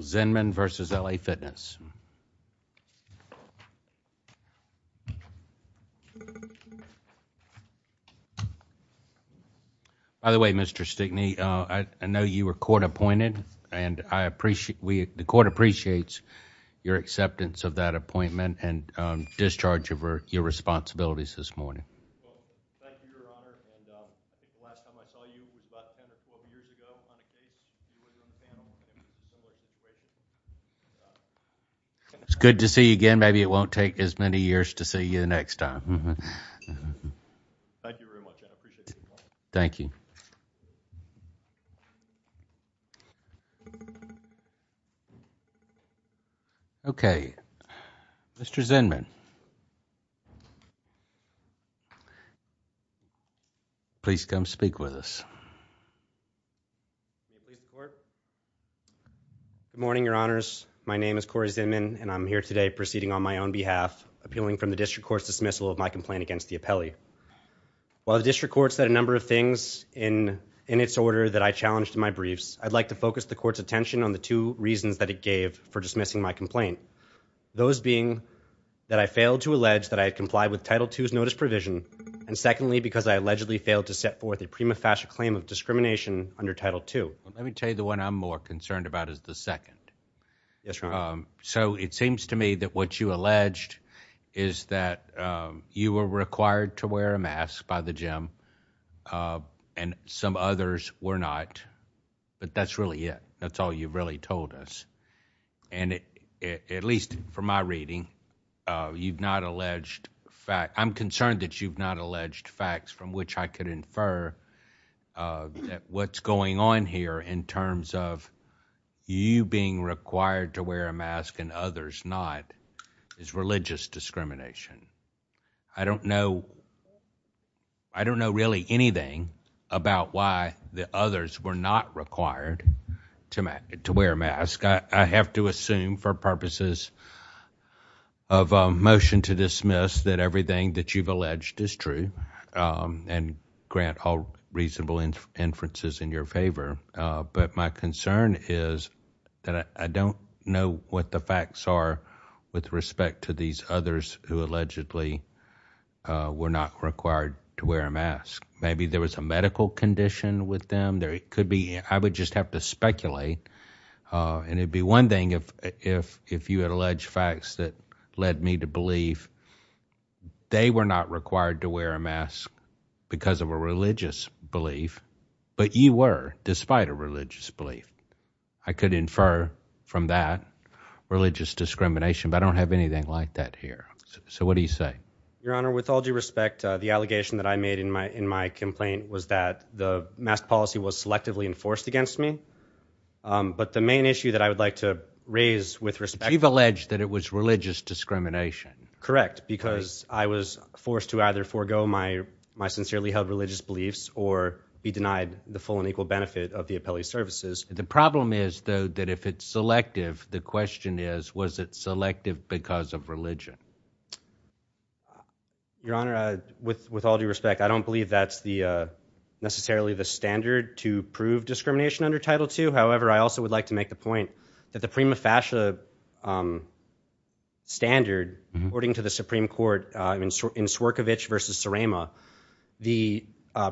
Zinman versus L. A. Fitness. By the way, Mr Stickney, I know you were court appointed and I appreciate the court appreciates your acceptance of that appointment and discharge of your responsibilities this morning. It's good to see you again. Maybe it won't take as many years to see you next time. Thank you very much. I appreciate it. Thank you. Okay, Mr Zinman, please come speak with us. Please work. Good morning, Your Honors. My name is Corey Zinman and I'm here today proceeding on my own behalf, appealing from the district court's dismissal of my complaint against the appellee. While the district courts that a number of things in in its order that I challenged in my briefs, I'd like to focus the court's attention on the two reasons that it gave for dismissing my complaint. Those being that I failed to allege that I complied with title twos notice provision and secondly, because I allegedly failed to set forth a prima facie claim of discrimination under Title two. Let me tell you the one I'm more concerned about is the second. Um, so it seems to me that what you alleged is that you were required to wear a mask by the gym. Uh, and some others were not. But that's really it. That's all you really told us. And at least for my reading, uh, you've not alleged fact. I'm concerned that you've not alleged facts from which I could infer, uh, what's going on here in terms of you being required to wear a mask and others not is religious discrimination. I don't know. I don't know really anything about why the others were not required to wear a mask. I have to assume for purposes of motion to dismiss that everything that you've alleged is true. Um, and grant all reasonable inferences in your favor. But my concern is that I don't know what the facts are with respect to these others who allegedly, uh, were not required to wear a mask. Maybe there was a medical condition with them. There could be. I would just have to speculate. Uh, and it would be one thing if if if you had alleged facts that led me to believe they were not required to wear a mask because of a religious belief. But you were despite a religious belief. I could infer from that religious discrimination, but I don't have anything like that here. So what do you say, Your Honor? With all due respect, the allegation that I made in my in my complaint was that the mask policy was selectively enforced against me. Um, but the main issue that I would like to raise with respect, you've alleged that it was religious discrimination. Correct. Because I was forced to either forego my my sincerely held religious beliefs or be denied the full and equal benefit of the appellee services. The problem is, though, that if it's selective, the question is, was it selective because of religion? Your Honor, with with all due respect, I don't believe that's the necessarily the standard to prove discrimination under Title two. However, I also would like to make the point that the prima facie, um, standard, according to the Supreme Court in in Swerkovich versus Sarama, the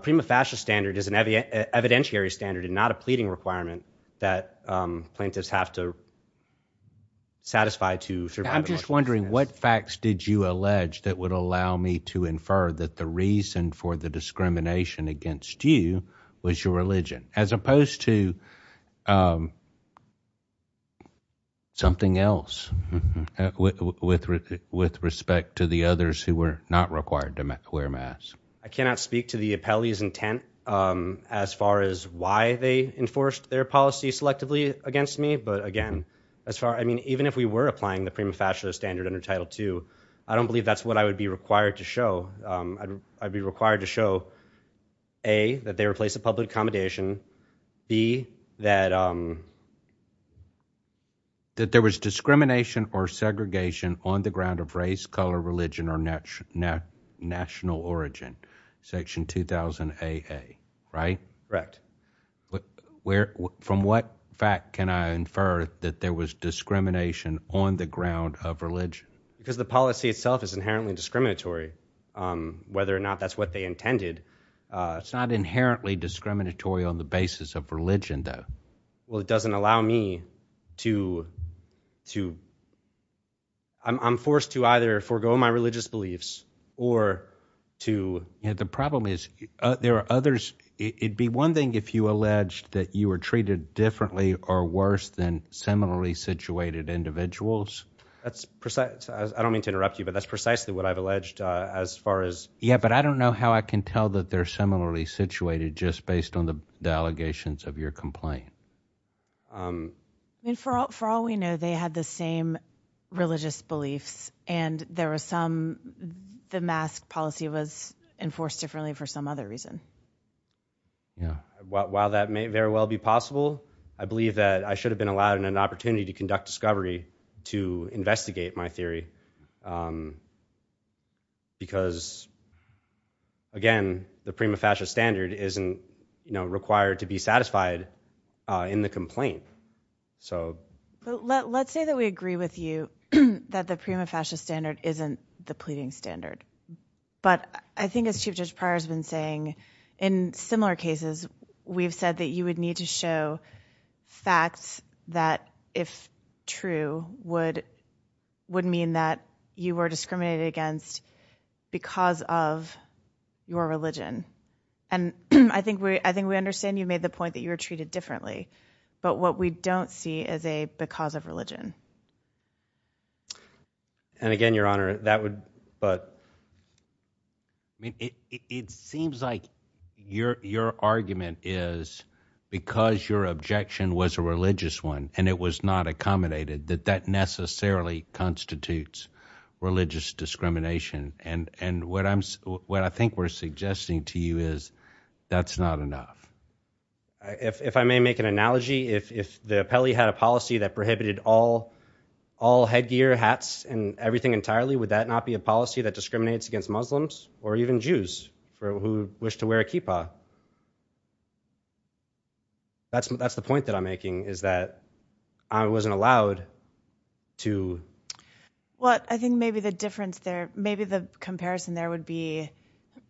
prima facie standard is an evidentiary standard and not a pleading requirement that plaintiffs have to satisfy to. I'm just wondering what facts did you allege that would allow me to infer that the reason for the discrimination against you was your something else with with respect to the others who were not required to wear mass. I cannot speak to the appellee's intent. Um, as far as why they enforced their policy selectively against me. But again, as far I mean, even if we were applying the prima facie standard under Title two, I don't believe that's what I would be required to show. Um, I'd be required to show a that they replace the public accommodation be that, um, that there was discrimination or segregation on the ground of race, color, religion or national origin. Section 2000. A. A. Right, correct. Where? From what fact can I infer that there was discrimination on the ground of religion? Because the policy itself is inherently discriminatory. Um, it's not inherently discriminatory on the basis of religion, though. Well, it doesn't allow me to, to I'm forced to either forego my religious beliefs or to. The problem is there are others. It'd be one thing if you alleged that you were treated differently or worse than similarly situated individuals. That's precise. I don't mean to interrupt you, but that's precisely what I've alleged. Ah, as far as. Yeah, but I don't know how I can tell that they're similarly situated just based on the allegations of your complaint. Um, for all we know, they had the same religious beliefs and there was some the mask policy was enforced differently for some other reason. Yeah. While that may very well be possible, I believe that I should have been allowed an opportunity to conduct discovery to investigate my theory. Um, because again, the prima facie standard isn't required to be satisfied in the complaint. So let's say that we agree with you that the prima facie standard isn't the pleading standard. But I think as Chief Judge prior has been saying in similar cases, we've said that you would need to show facts that if true would would mean that you were discriminated against because of your religion. And I think I think we understand you made the point that you were treated differently. But what we don't see is a because of religion and again, Your Honor, that would but I mean, it seems like your argument is because your objection was a religious one and it was not accommodated that that necessarily constitutes religious discrimination. And and what I'm what I think we're suggesting to you is that's not enough. If I may make an analogy, if the appellee had a policy that prohibited all all headgear hats and everything entirely, would that not be a policy that discriminates against muslims or even jews who wish to wear a kippah? That's that's the point that I'm making is that I wasn't allowed to. What I think maybe the difference there, maybe the comparison there would be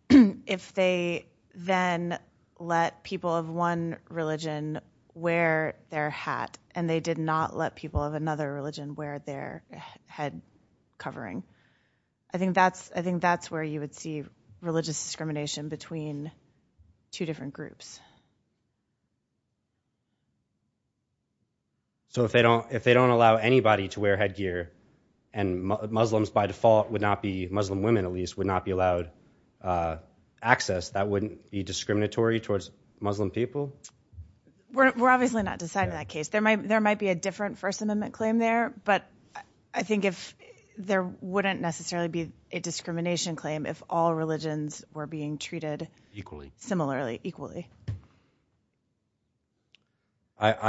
if they then let people of one religion wear their hat and they did not let people of another religion wear their head covering. I think that's I think two different groups. So if they don't if they don't allow anybody to wear headgear and muslims by default would not be muslim women at least would not be allowed uh access that wouldn't be discriminatory towards muslim people. We're obviously not deciding that case. There might there might be a different first amendment claim there. But I think if there wouldn't necessarily be a equally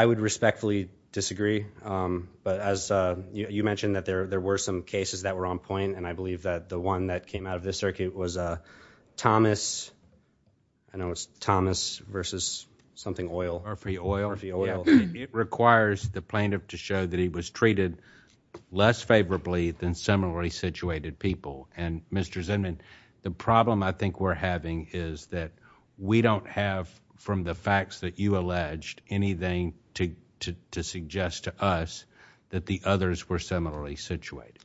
I would respectfully disagree. Um but as uh you mentioned that there were some cases that were on point and I believe that the one that came out of this circuit was uh thomas. I know it's thomas versus something oil or free oil. It requires the plaintiff to show that he was treated less favorably than similarly situated people. And Mr Zimmerman, the problem I think we're having is that we don't have from the facts that you alleged anything to to suggest to us that the others were similarly situated.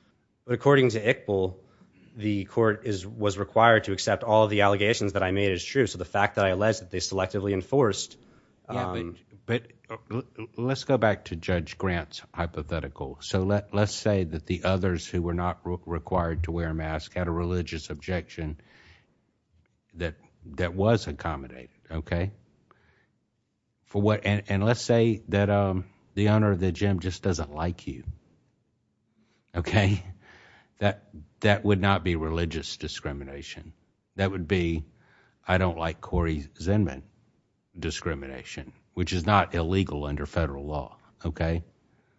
But according to equal, the court is was required to accept all of the allegations that I made is true. So the fact that I alleged that they selectively enforced, um but let's go back to judge grants hypothetical. So let's say that the others who were not required to wear a mask had a religious objection that that was accommodated. Okay. For what? And let's say that um the owner of the gym just doesn't like you. Okay, that that would not be religious discrimination. That would be, I don't like Corey Zinman discrimination, which is not illegal under federal law. Okay.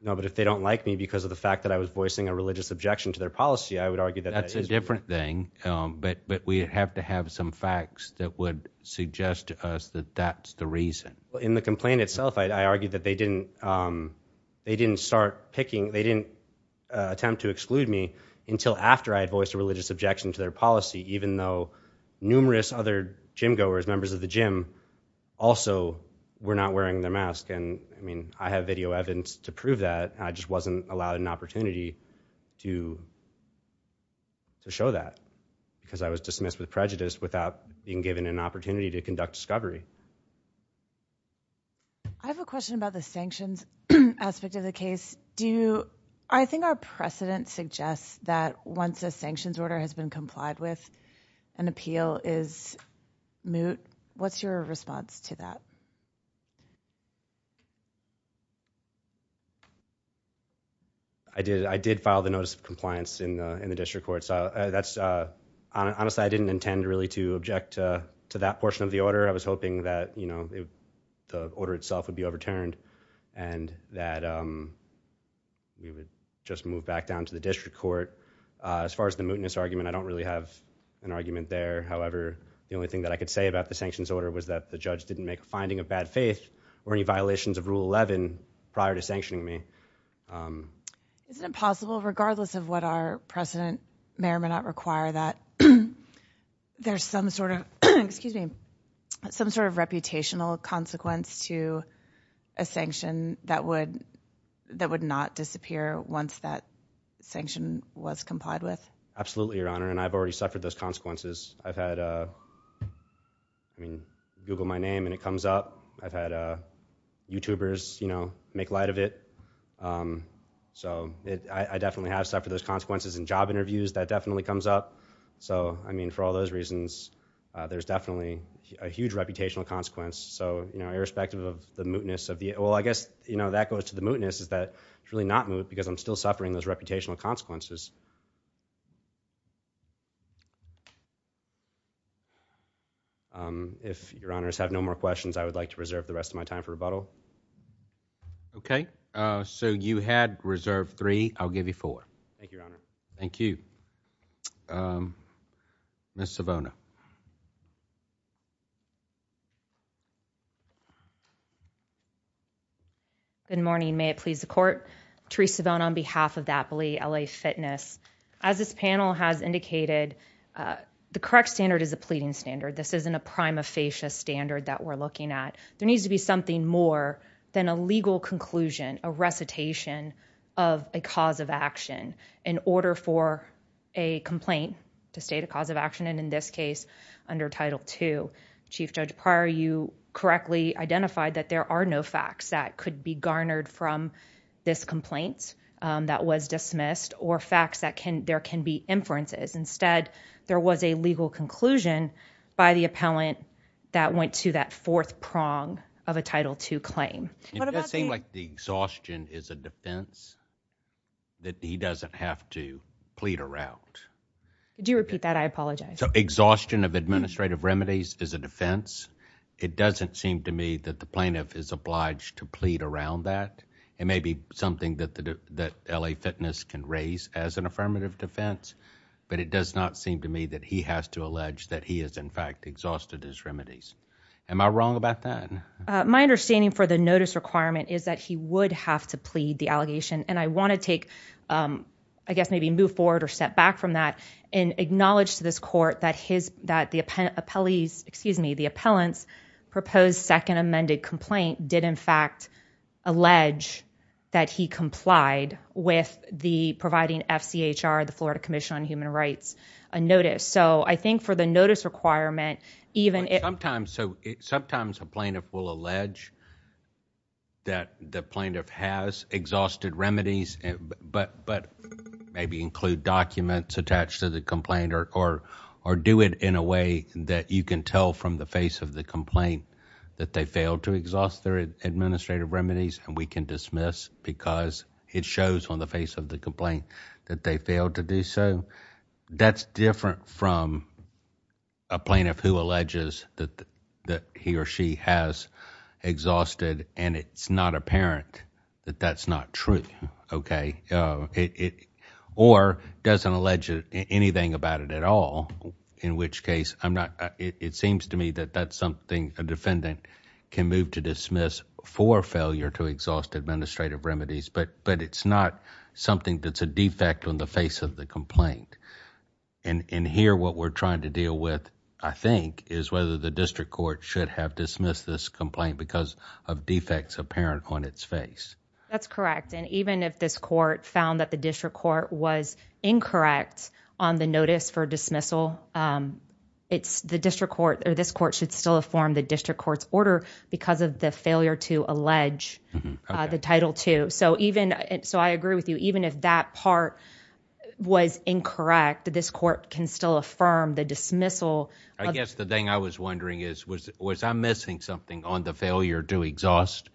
No, but if they don't like me because of the fact that I was voicing a religious objection to their policy, I would argue that that's a different thing. But we have to have some facts that would suggest to us that that's the reason in the complaint itself. I argued that they didn't um they didn't start picking. They didn't attempt to exclude me until after I had voiced a religious objection to their policy, even though numerous other gym goers, members of the gym also were not wearing their mask. And I mean, I have video evidence to prove that I just wasn't allowed an opportunity to to show that because I was dismissed with prejudice without being given an opportunity to conduct discovery. I have a question about the sanctions aspect of the case. Do I think our precedent suggests that once a sanctions order has been complied with an appeal is moot. What's your response to that? Yeah. I did. I did file the notice of compliance in the in the district court. So that's uh, honestly, I didn't intend really to object to that portion of the order. I was hoping that, you know, the order itself would be overturned and that, um, we would just move back down to the district court. As far as the mootness argument, I don't really have an argument there. However, the only thing that I could say about the sanctions order was that the judge didn't make a finding of bad faith or any violations of Rule 11 prior to sanctioning me. Um, isn't it possible, regardless of what our precedent may or may not require that there's some sort of excuse me, some sort of reputational consequence to a sanction that would that would not disappear once that sanction was complied with? Absolutely, Your Honor. And I've already suffered those consequences. I've had, uh, I mean, google my name and it comes up. I've had, uh, youtubers, you know, make light of it. Um, so I definitely have suffered those consequences and job interviews that definitely comes up. So, I mean, for all those reasons, there's definitely a huge reputational consequence. So, you know, irrespective of the mootness of the well, I guess, you know, that goes to the mootness is that it's really not moot because I'm still suffering those reputational consequences. Um, if your honors have no more questions, I would like to reserve the rest of my time for rebuttal. Okay. Uh, so you had reserved three. I'll give you four. Thank you, Your Honor. Thank you. Um, Miss Savona. Good morning. May it please the court. Teresa bone on behalf of that believe L. A. Fitness. As this panel has indicated, uh, the correct standard is a pleading standard. This isn't a prime of facious standard that we're looking at. There needs to be something more than a legal conclusion, a recitation of a cause of action in order for a complaint to state a cause of action. And in this case, under title to Chief Judge prior, you correctly identified that there are no facts that could be garnered from this complaint that was dismissed or facts that can there can be inferences. Instead, there was a legal conclusion by the appellant that went to that fourth prong of a title to claim. It does seem like the exhaustion is a defense that he doesn't have to plead around. Do you repeat that? I apologize. Exhaustion of administrative remedies is a defense. It doesn't seem to me that the plaintiff is obliged to plead around that. It may be something that that L. Affirmative defense, but it does not seem to me that he has to allege that he is in fact exhausted his remedies. Am I wrong about that? My understanding for the notice requirement is that he would have to plead the allegation and I want to take, um, I guess maybe move forward or step back from that and acknowledge to this court that his that the appellees excuse me, the appellants proposed second amended complaint did in fact allege that he are the florida commission on human rights notice. So I think for the notice requirement, even sometimes so sometimes a plaintiff will allege that the plaintiff has exhausted remedies, but but maybe include documents attached to the complaint or or or do it in a way that you can tell from the face of the complaint that they failed to exhaust their administrative remedies and we can dismiss because it shows on the face of the complaint that they failed to do so. That's different from a plaintiff who alleges that that he or she has exhausted and it's not apparent that that's not true. Okay. Uh, or doesn't allege anything about it at all. In which case, I'm not, it seems to me that that's something a defendant can move to dismiss for failure to exhaust administrative remedies. But but it's not something that's a defect on the face of the complaint and and here what we're trying to deal with I think is whether the district court should have dismissed this complaint because of defects apparent on its face. That's correct. And even if this court found that the district court was incorrect on the notice for dismissal, um it's the district court or this court should still have formed the district court's because of the failure to allege the title two. So even so I agree with you even if that part was incorrect, this court can still affirm the dismissal. I guess the thing I was wondering is was was I missing something on the failure to exhaust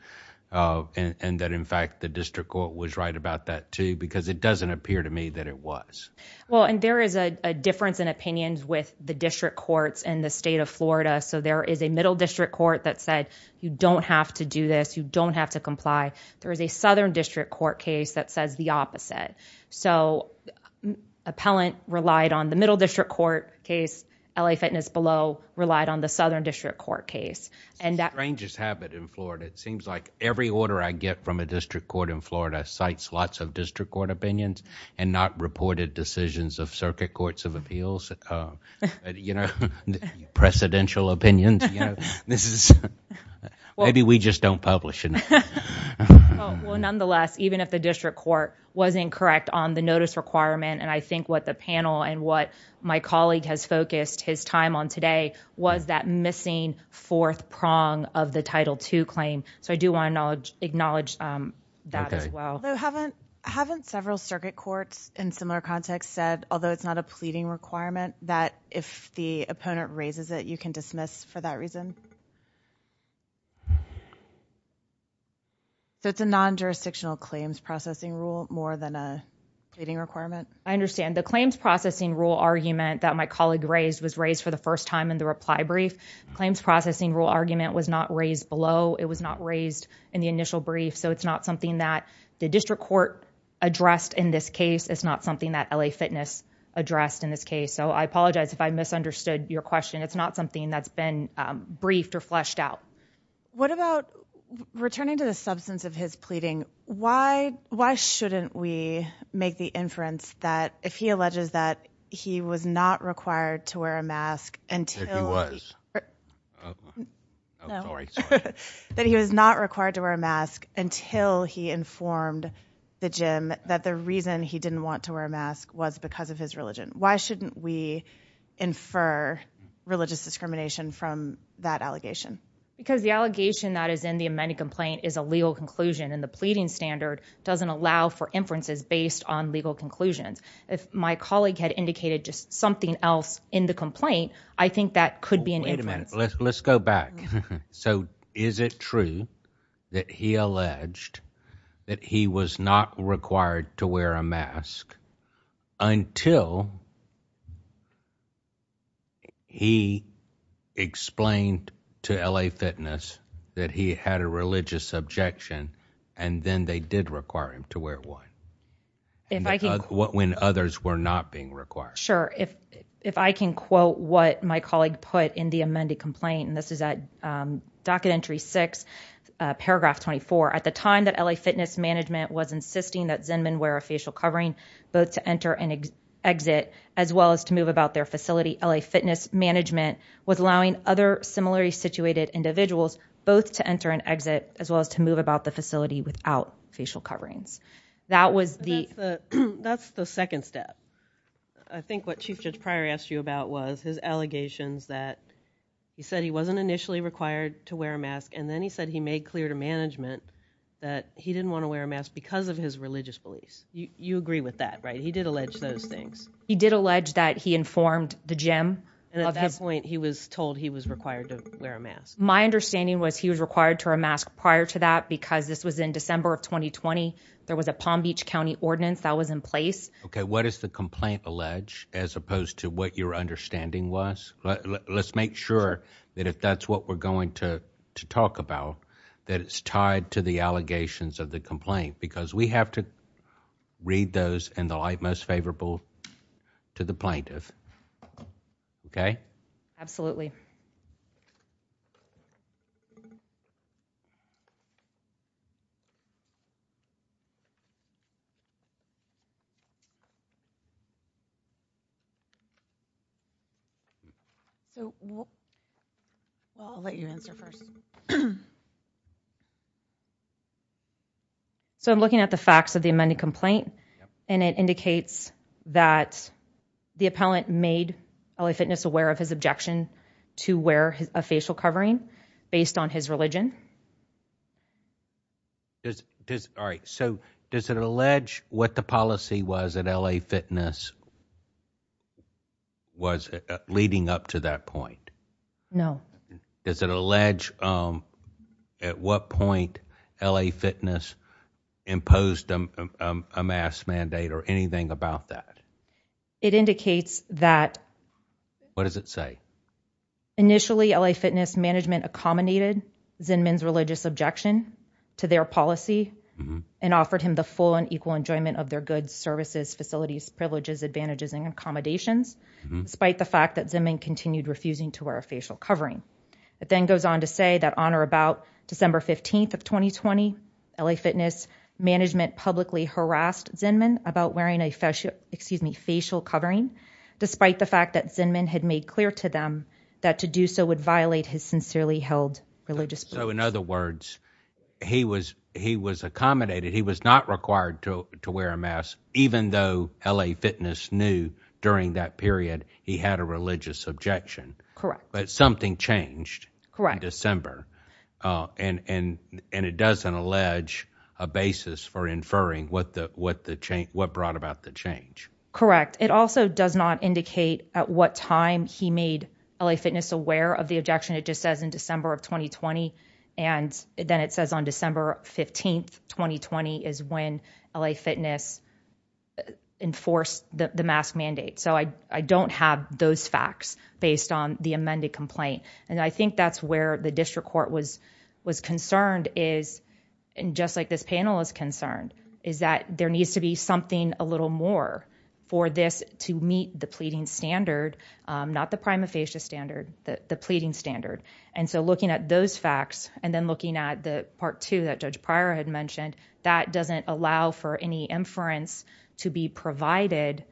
uh and that in fact the district court was right about that too because it doesn't appear to me that it was well and there is a difference in opinions with the district courts in the state of florida. So there is a middle district court that said you don't have to do this, you don't have to comply. There is a southern district court case that says the opposite. So appellant relied on the middle district court case, L. A. Fitness below relied on the southern district court case and that ranges habit in florida. It seems like every order I get from a district court in florida sites, lots of district court opinions and not reported decisions of circuit courts of appeals. Uh, you know, presidential opinions, you know, this is maybe we just don't publish it. Well, nonetheless, even if the district court wasn't correct on the notice requirement and I think what the panel and what my colleague has focused his time on today was that missing fourth prong of the title to claim. So I do want to acknowledge that as well. I haven't several circuit courts in similar context said, although it's not a pleading requirement that if the opponent raises it, you can dismiss for that reason. So it's a non jurisdictional claims processing rule more than a pleading requirement. I understand the claims processing rule argument that my colleague raised was raised for the first time in the reply brief claims processing rule argument was not raised below. It was not raised in the initial brief. So it's not something that the district court addressed in this case. It's not something that L. A. Fitness addressed in this case. So I apologize if I misunderstood your question. It's not something that's been briefed or fleshed out. What about returning to the substance of his pleading? Why? Why shouldn't we make the inference that if he alleges that he was not required to wear a mask until it was sorry that he was not required to wear a mask until he informed the gym that the reason he didn't want to wear a mask was because of his religion. Why shouldn't we infer religious discrimination from that allegation? Because the allegation that is in the amended complaint is a legal conclusion, and the pleading standard doesn't allow for inferences based on legal conclusions. If my colleague had indicated just something else in the complaint, I think that could be an intimate. Let's go back. So is it true that he alleged that he was not required to wear a mask until he explained to L. A. Fitness that he had a religious objection, and then they did require him to wear one. If I could what when others were not being required? Sure, if if I can quote what my colleague put in the amended complaint, and this is a documentary six paragraph 24 at the time that L. A. Fitness management was insisting that Zenman wear a facial covering both to enter and exit as well as to move about their facility. L. A. Fitness management was allowing other similarly situated individuals both to enter and exit as well as to move about the facility without facial coverings. That was the that's the second step. I think what she's just prior asked you about was his allegations that he said he wasn't initially required to wear a mask, and then he said he made clear to management that he didn't want to wear a mask because of his religious beliefs. You agree with that, right? He did allege those things. He did allege that he informed the gym. At that point, he was told he was required to wear a mask. My understanding was he was required to a mask prior to that, because this was in December of 2020. There was a Palm Beach County ordinance that was in place. Okay, what is the complaint allege as opposed to what your understanding was? Let's make sure that if that's what we're going to talk about, that it's tied to the allegations of the complaint because we have to read those and the light most favorable to the plaintiff. Okay, absolutely. Yeah. So I'll let you answer first. So I'm looking at the facts of the amended complaint, and it indicates that the appellant made L. A. Fitness aware of his objection to wear a facial covering based on his religion. All right. So does it allege what the policy was that L. A. Fitness was leading up to that point? No. Is it allege? Um, at what point L. A. Fitness imposed a mass mandate or anything about that? It indicates that what does it say? Initially, L. A. Fitness management accommodated Zen men's religious objection to their policy and offered him the full and equal enjoyment of their goods, services, facilities, privileges, advantages and accommodations. Despite the fact that Zimming continued refusing to wear a facial covering, it then goes on to say that on or about December 15th of 2020 L. A. Fitness management publicly harassed Zen men about wearing a facial excuse me facial covering, despite the fact that Zen men had made clear to them that to do so would violate his sincerely held religious. So in other words, he was, he was accommodated. He was not required to wear a mask, even though L. A. Fitness knew during that period he had a religious objection. Correct. But something changed correct December. Uh, and, and, and it doesn't allege a basis for inferring what the, what the change, what brought about the change. Correct. It also does not indicate at what time he made L. A. Fitness aware of the objection. It just says in 2020 and then it says on December 15th 2020 is when L. A. Fitness enforced the mask mandate. So I don't have those facts based on the amended complaint. And I think that's where the district court was was concerned is and just like this panel is concerned is that there needs to be something a little more for this to meet the pleading standard, not the prima facie standard, the pleading standard. And so looking at those facts and then looking at the part two that judge prior had mentioned that doesn't allow for any inference to be provided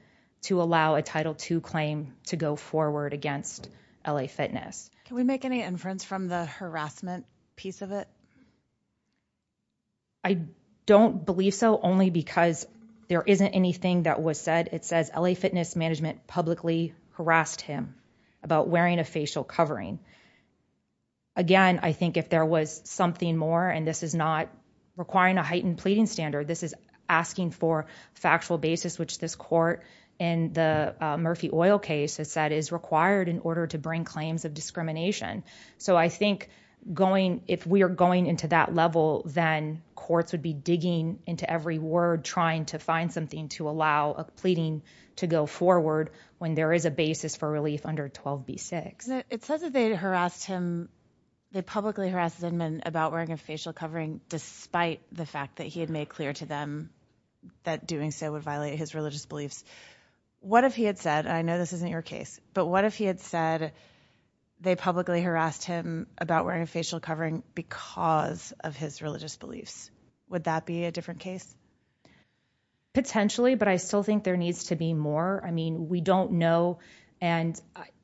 to allow a title to claim to go forward against L. A. Fitness. Can we make any inference from the harassment piece of it? I don't believe so only because there isn't anything that was said. It says L. Harassed him about wearing a facial covering again. I think if there was something more and this is not requiring a heightened pleading standard, this is asking for factual basis, which this court in the Murphy oil case has said is required in order to bring claims of discrimination. So I think going if we're going into that level, then courts would be digging into every word, trying to find something to allow a to go forward when there is a basis for relief under 12 B six. It says that they harassed him. They publicly harassed them and about wearing a facial covering despite the fact that he had made clear to them that doing so would violate his religious beliefs. What if he had said, I know this isn't your case, but what if he had said they publicly harassed him about wearing a facial covering because of his religious beliefs? Would that be a different case potentially? But I still think there needs to be more. I mean, we don't know. And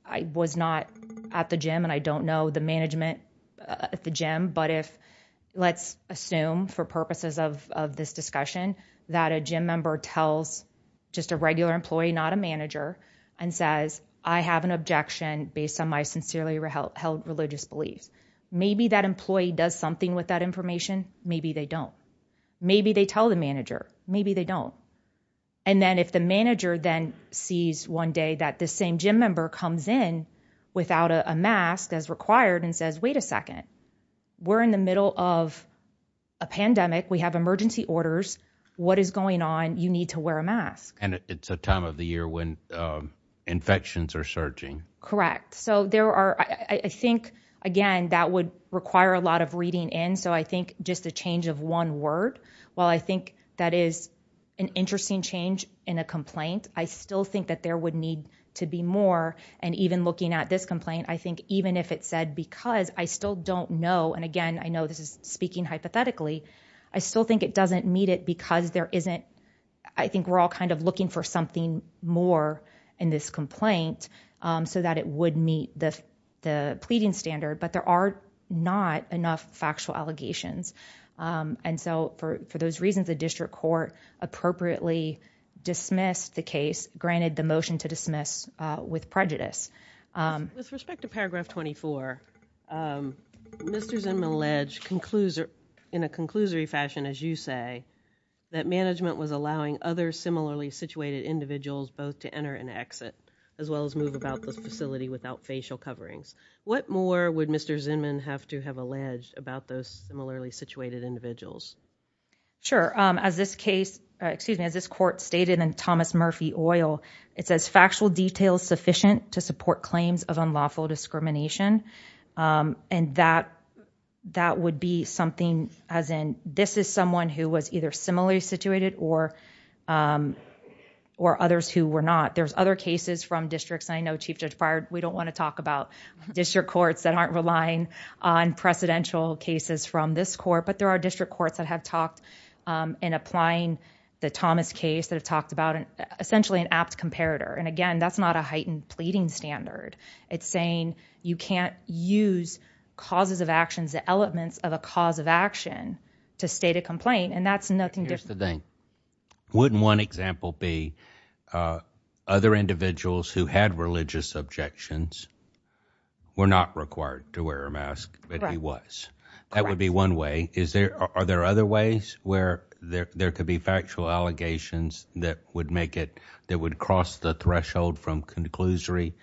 I was not at the gym and I don't know the management at the gym. But if let's assume for purposes of of this discussion that a gym member tells just a regular employee, not a manager and says, I have an objection based on my sincerely held religious beliefs. Maybe that employee does something with that maybe they don't. And then if the manager then sees one day that the same gym member comes in without a mask as required and says, wait a second, we're in the middle of a pandemic. We have emergency orders. What is going on? You need to wear a mask. And it's a time of the year when infections are surging. Correct. So there are, I think again, that would require a lot of reading in. So I think just the change of one word, while I think that is an interesting change in a complaint, I still think that there would need to be more. And even looking at this complaint, I think even if it said, because I still don't know. And again, I know this is speaking hypothetically. I still think it doesn't meet it because there isn't. I think we're all kind of looking for something more in this complaint so that it would meet the pleading standard. But there are not enough factual allegations. Um, and so for those reasons, the district court appropriately dismissed the case, granted the motion to dismiss with prejudice. Um, with respect to paragraph 24, um, Mr Zim alleged concludes in a conclusory fashion, as you say, that management was allowing other similarly situated individuals both to enter and exit as well as move about the facility without facial coverings. What more would Mr Zimmerman have to have alleged about those similarly situated individuals? Sure. Um, as this case, excuse me, as this court stated and Thomas Murphy oil, it says factual details sufficient to support claims of unlawful discrimination. Um, and that that would be something as in this is someone who was either similarly situated or, um, or others who were not. There's other cases from districts. I know, Chief Judge fired. We don't want to talk about district courts that aren't relying on presidential cases from this court. But there are district courts that have talked, um, in applying the Thomas case that have talked about essentially an apt comparator. And again, that's not a heightened pleading standard. It's saying you can't use causes of actions, the elements of a cause of action to state a complaint. And that's nothing different thing. Wouldn't one example be, uh, other individuals who had religious objections were not required to wear a mask, but he was, that would be one way. Is there are there other ways where there could be factual allegations that would make it that would cross the threshold from conclusory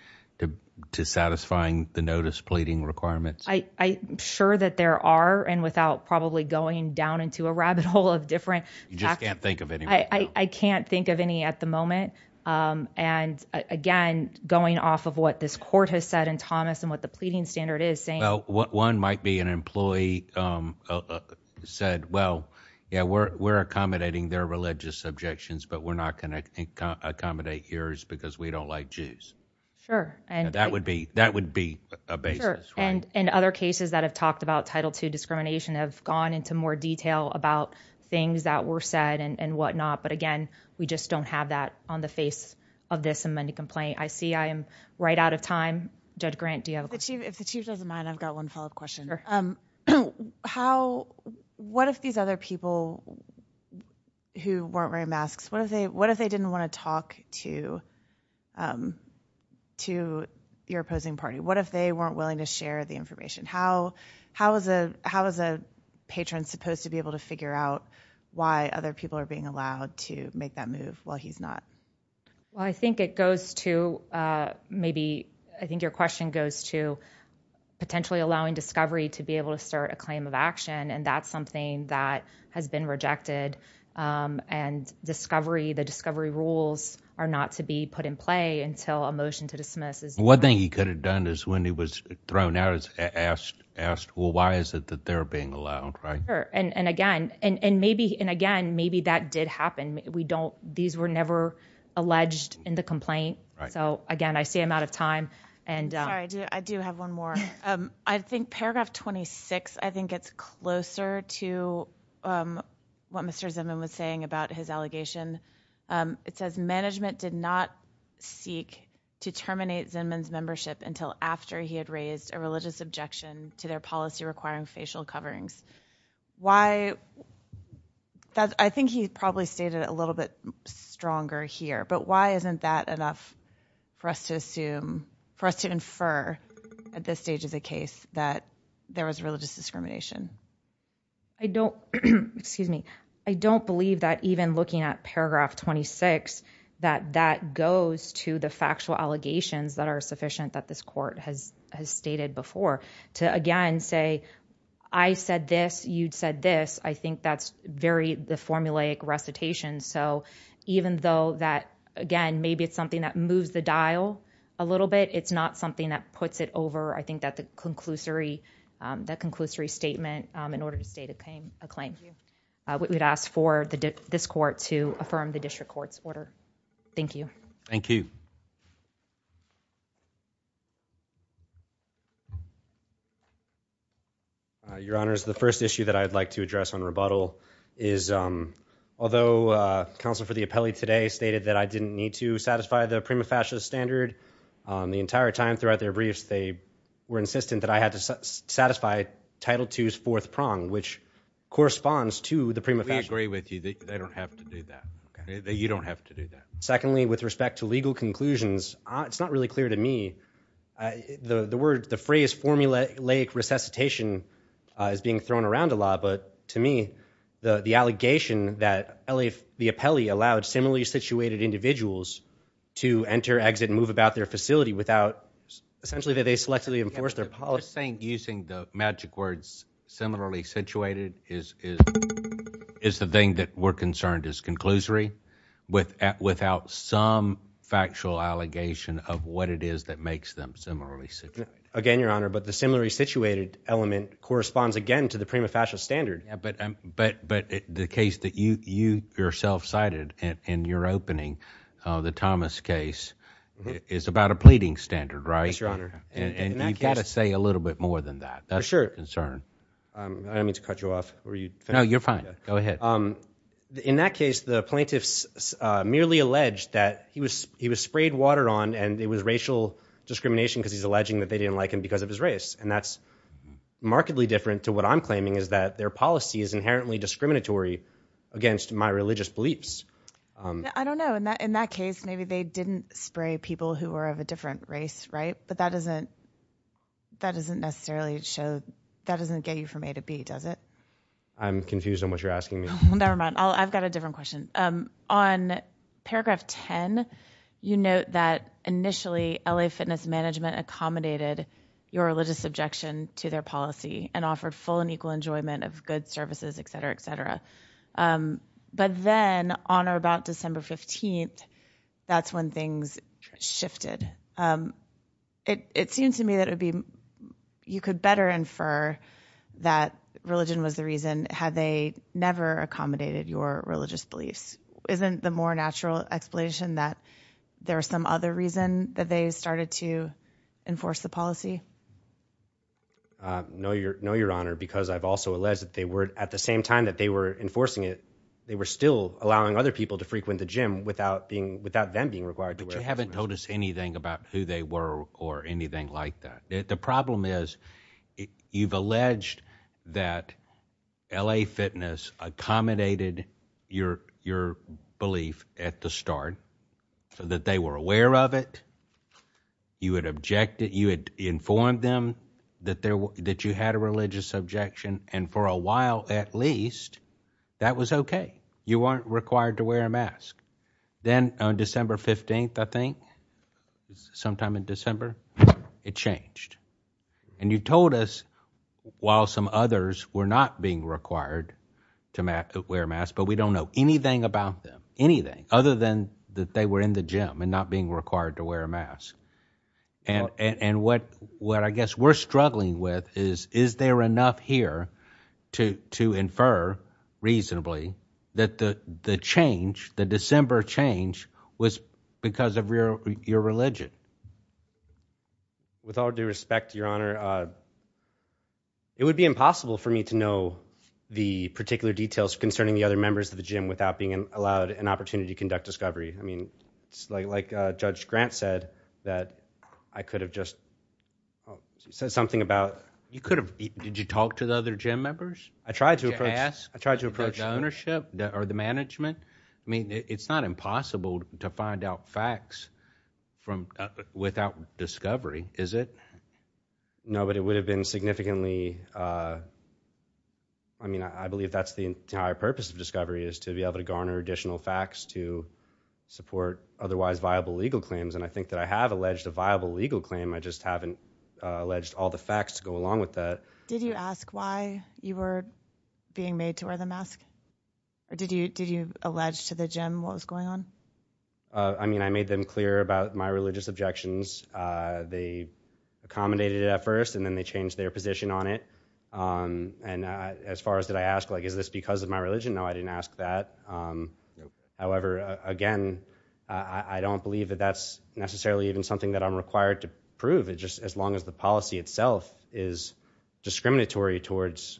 to satisfying the notice pleading requirements? I'm sure that there are and without probably going down into a rabbit hole of different. You just can't think of it. I can't think of any at the moment. Um, and again, going off of what this court has said in thomas and what the pleading standard is saying, one might be an employee, um, said, well, yeah, we're, we're accommodating their religious objections, but we're not going to accommodate yours because we don't like Jews. Sure. And that would be, that would be a base. And in other cases that have talked about title two discrimination have gone into more just don't have that on the face of this amending complaint. I see I am right out of time. Judge grant. Do you have a chief? If the chief doesn't mind, I've got one follow up question. Um, how, what if these other people who weren't wearing masks, what if they, what if they didn't want to talk to, um, to your opposing party? What if they weren't willing to share the information? How, how is a, how is a patron supposed to be able to figure out why other people are being allowed to make that move while he's not? Well, I think it goes to, uh, maybe I think your question goes to potentially allowing discovery to be able to start a claim of action. And that's something that has been rejected. Um, and discovery, the discovery rules are not to be put in play until a motion to dismiss is one thing he could have done is when he was thrown out, it's asked, asked, well, why is it that they're being allowed? Right? And again, and maybe and again, maybe that did happen. We don't. These were never alleged in the complaint. So again, I see I'm out of time and I do have one more. Um, I think paragraph 26, I think it's closer to, um, what Mr Zimmerman was saying about his allegation. Um, it says management did not seek to terminate Simmons membership until after he had raised a religious objection to their policy requiring facial coverings. Why? I think he probably stated a little bit stronger here. But why isn't that enough for us to assume for us to infer at this stage is a case that there was religious discrimination. I don't excuse me. I don't believe that even looking at paragraph 26 that that goes to the factual allegations that are stated before to again say, I said this, you'd said this. I think that's very the formulaic recitation. So even though that again, maybe it's something that moves the dial a little bit, it's not something that puts it over. I think that the conclusory, um, that conclusory statement in order to state a claim, a claim we would ask for this court to affirm the district court's order. Thank you. Thank you. Uh, your honors, the first issue that I'd like to address on rebuttal is, um, although, uh, counsel for the appellee today stated that I didn't need to satisfy the prima facie standard on the entire time throughout their briefs, they were insistent that I had to satisfy title twos fourth prong, which corresponds to the prima facie agree with you that they don't have to do that. You don't have to do that. Secondly, with respect to legal conclusions, it's not really clear to me. Uh, the word, the phrase formulaic resuscitation is being thrown around a lot. But to me, the allegation that L. A. The appellee allowed similarly situated individuals to enter, exit and move about their facility without essentially that they selectively enforce their policy using the magic words. Similarly situated is is is the thing that we're concerned is conclusory with without some factual allegation of what it is that makes them similarly again, your honor. But the similarly situated element corresponds again to the prima facie standard. But but but the case that you yourself cited in your opening the thomas case is about a pleading standard, right? Your honor. And you've got to say a little bit more than that. That's your concern. Um, I don't mean to cut you off or you know, you're fine. Go ahead. Um, in that case, the plaintiffs merely alleged that he was, he was sprayed water on and it was racial discrimination because he's alleging that they didn't like him because of his race. And that's markedly different to what I'm claiming is that their policy is inherently discriminatory against my religious beliefs. Um, I don't know. In that, in that case, maybe they didn't spray people who were of a different race, right? But that isn't, that isn't necessarily show that doesn't get you from A to B, does it? I'm confused on what you're asking me. Never mind. I've got a different question. Um, on paragraph 10, you note that initially L. A. Fitness management accommodated your religious objection to their policy and offered full and equal enjoyment of good services, etcetera, etcetera. Um, but then on or about you could better infer that religion was the reason had they never accommodated your religious beliefs. Isn't the more natural explanation that there are some other reason that they started to enforce the policy? Uh, no, you're no, your honor, because I've also alleged that they were at the same time that they were enforcing it, they were still allowing other people to frequent the gym without being without them being required to wear. You haven't told us anything about who they were or anything like that. The problem is you've alleged that L. A. Fitness accommodated your belief at the start so that they were aware of it. You had objected, you had informed them that there that you had a religious objection and for a while at least that was okay. You weren't required to wear and you told us while some others were not being required to wear a mask, but we don't know anything about them, anything other than that they were in the gym and not being required to wear a mask. And and what what I guess we're struggling with is is there enough here to to infer reasonably that the change, the december change was because of your religion with all due respect, your honor, uh, it would be impossible for me to know the particular details concerning the other members of the gym without being allowed an opportunity to conduct discovery. I mean, it's like, like Judge Grant said that I could have just said something about you could have, did you talk to the other gym members? I it's not impossible to find out facts from without discovery, is it? No, but it would have been significantly. Uh, I mean, I believe that's the entire purpose of discovery is to be able to garner additional facts to support otherwise viable legal claims. And I think that I have alleged a viable legal claim. I just haven't alleged all the facts to go along with that. Did you ask why you were being made to wear the mask? Or did you, did you allege to the gym what was going on? I mean, I made them clear about my religious objections. Uh, they accommodated at first and then they changed their position on it. Um, and as far as did I ask, like, is this because of my religion? No, I didn't ask that. Um, however, again, I don't believe that that's necessarily even something that I'm required to prove it just as long as the policy itself is discriminatory towards,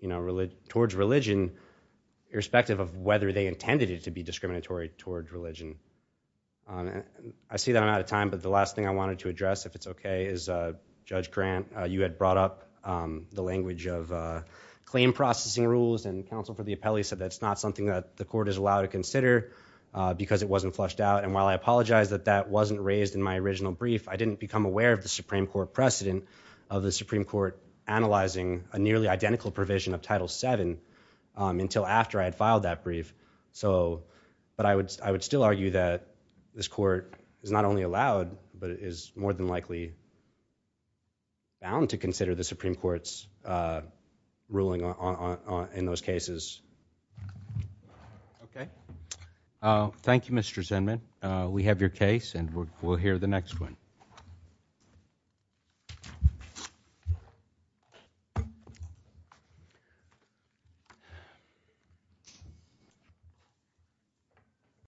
you know, towards religion, irrespective of whether they intended it to be discriminatory towards religion. Um, I see that I'm out of time, but the last thing I wanted to address if it's okay is, uh, judge grant, uh, you had brought up, um, the language of, uh, claim processing rules and counsel for the appellee said that's not something that the court is allowed to consider, uh, because it wasn't flushed out. And while I apologize that that wasn't raised in my original brief, I didn't become aware of the Supreme Court precedent of the Supreme Court analyzing a nearly identical provision of title seven until after I had filed that brief. So, but I would, I would still argue that this court is not only allowed, but it is more than likely bound to consider the Supreme Court's, uh, ruling on in those cases. Okay. Uh, thank you, Mr Zinman. We have your case and we'll hear the next one. Yeah.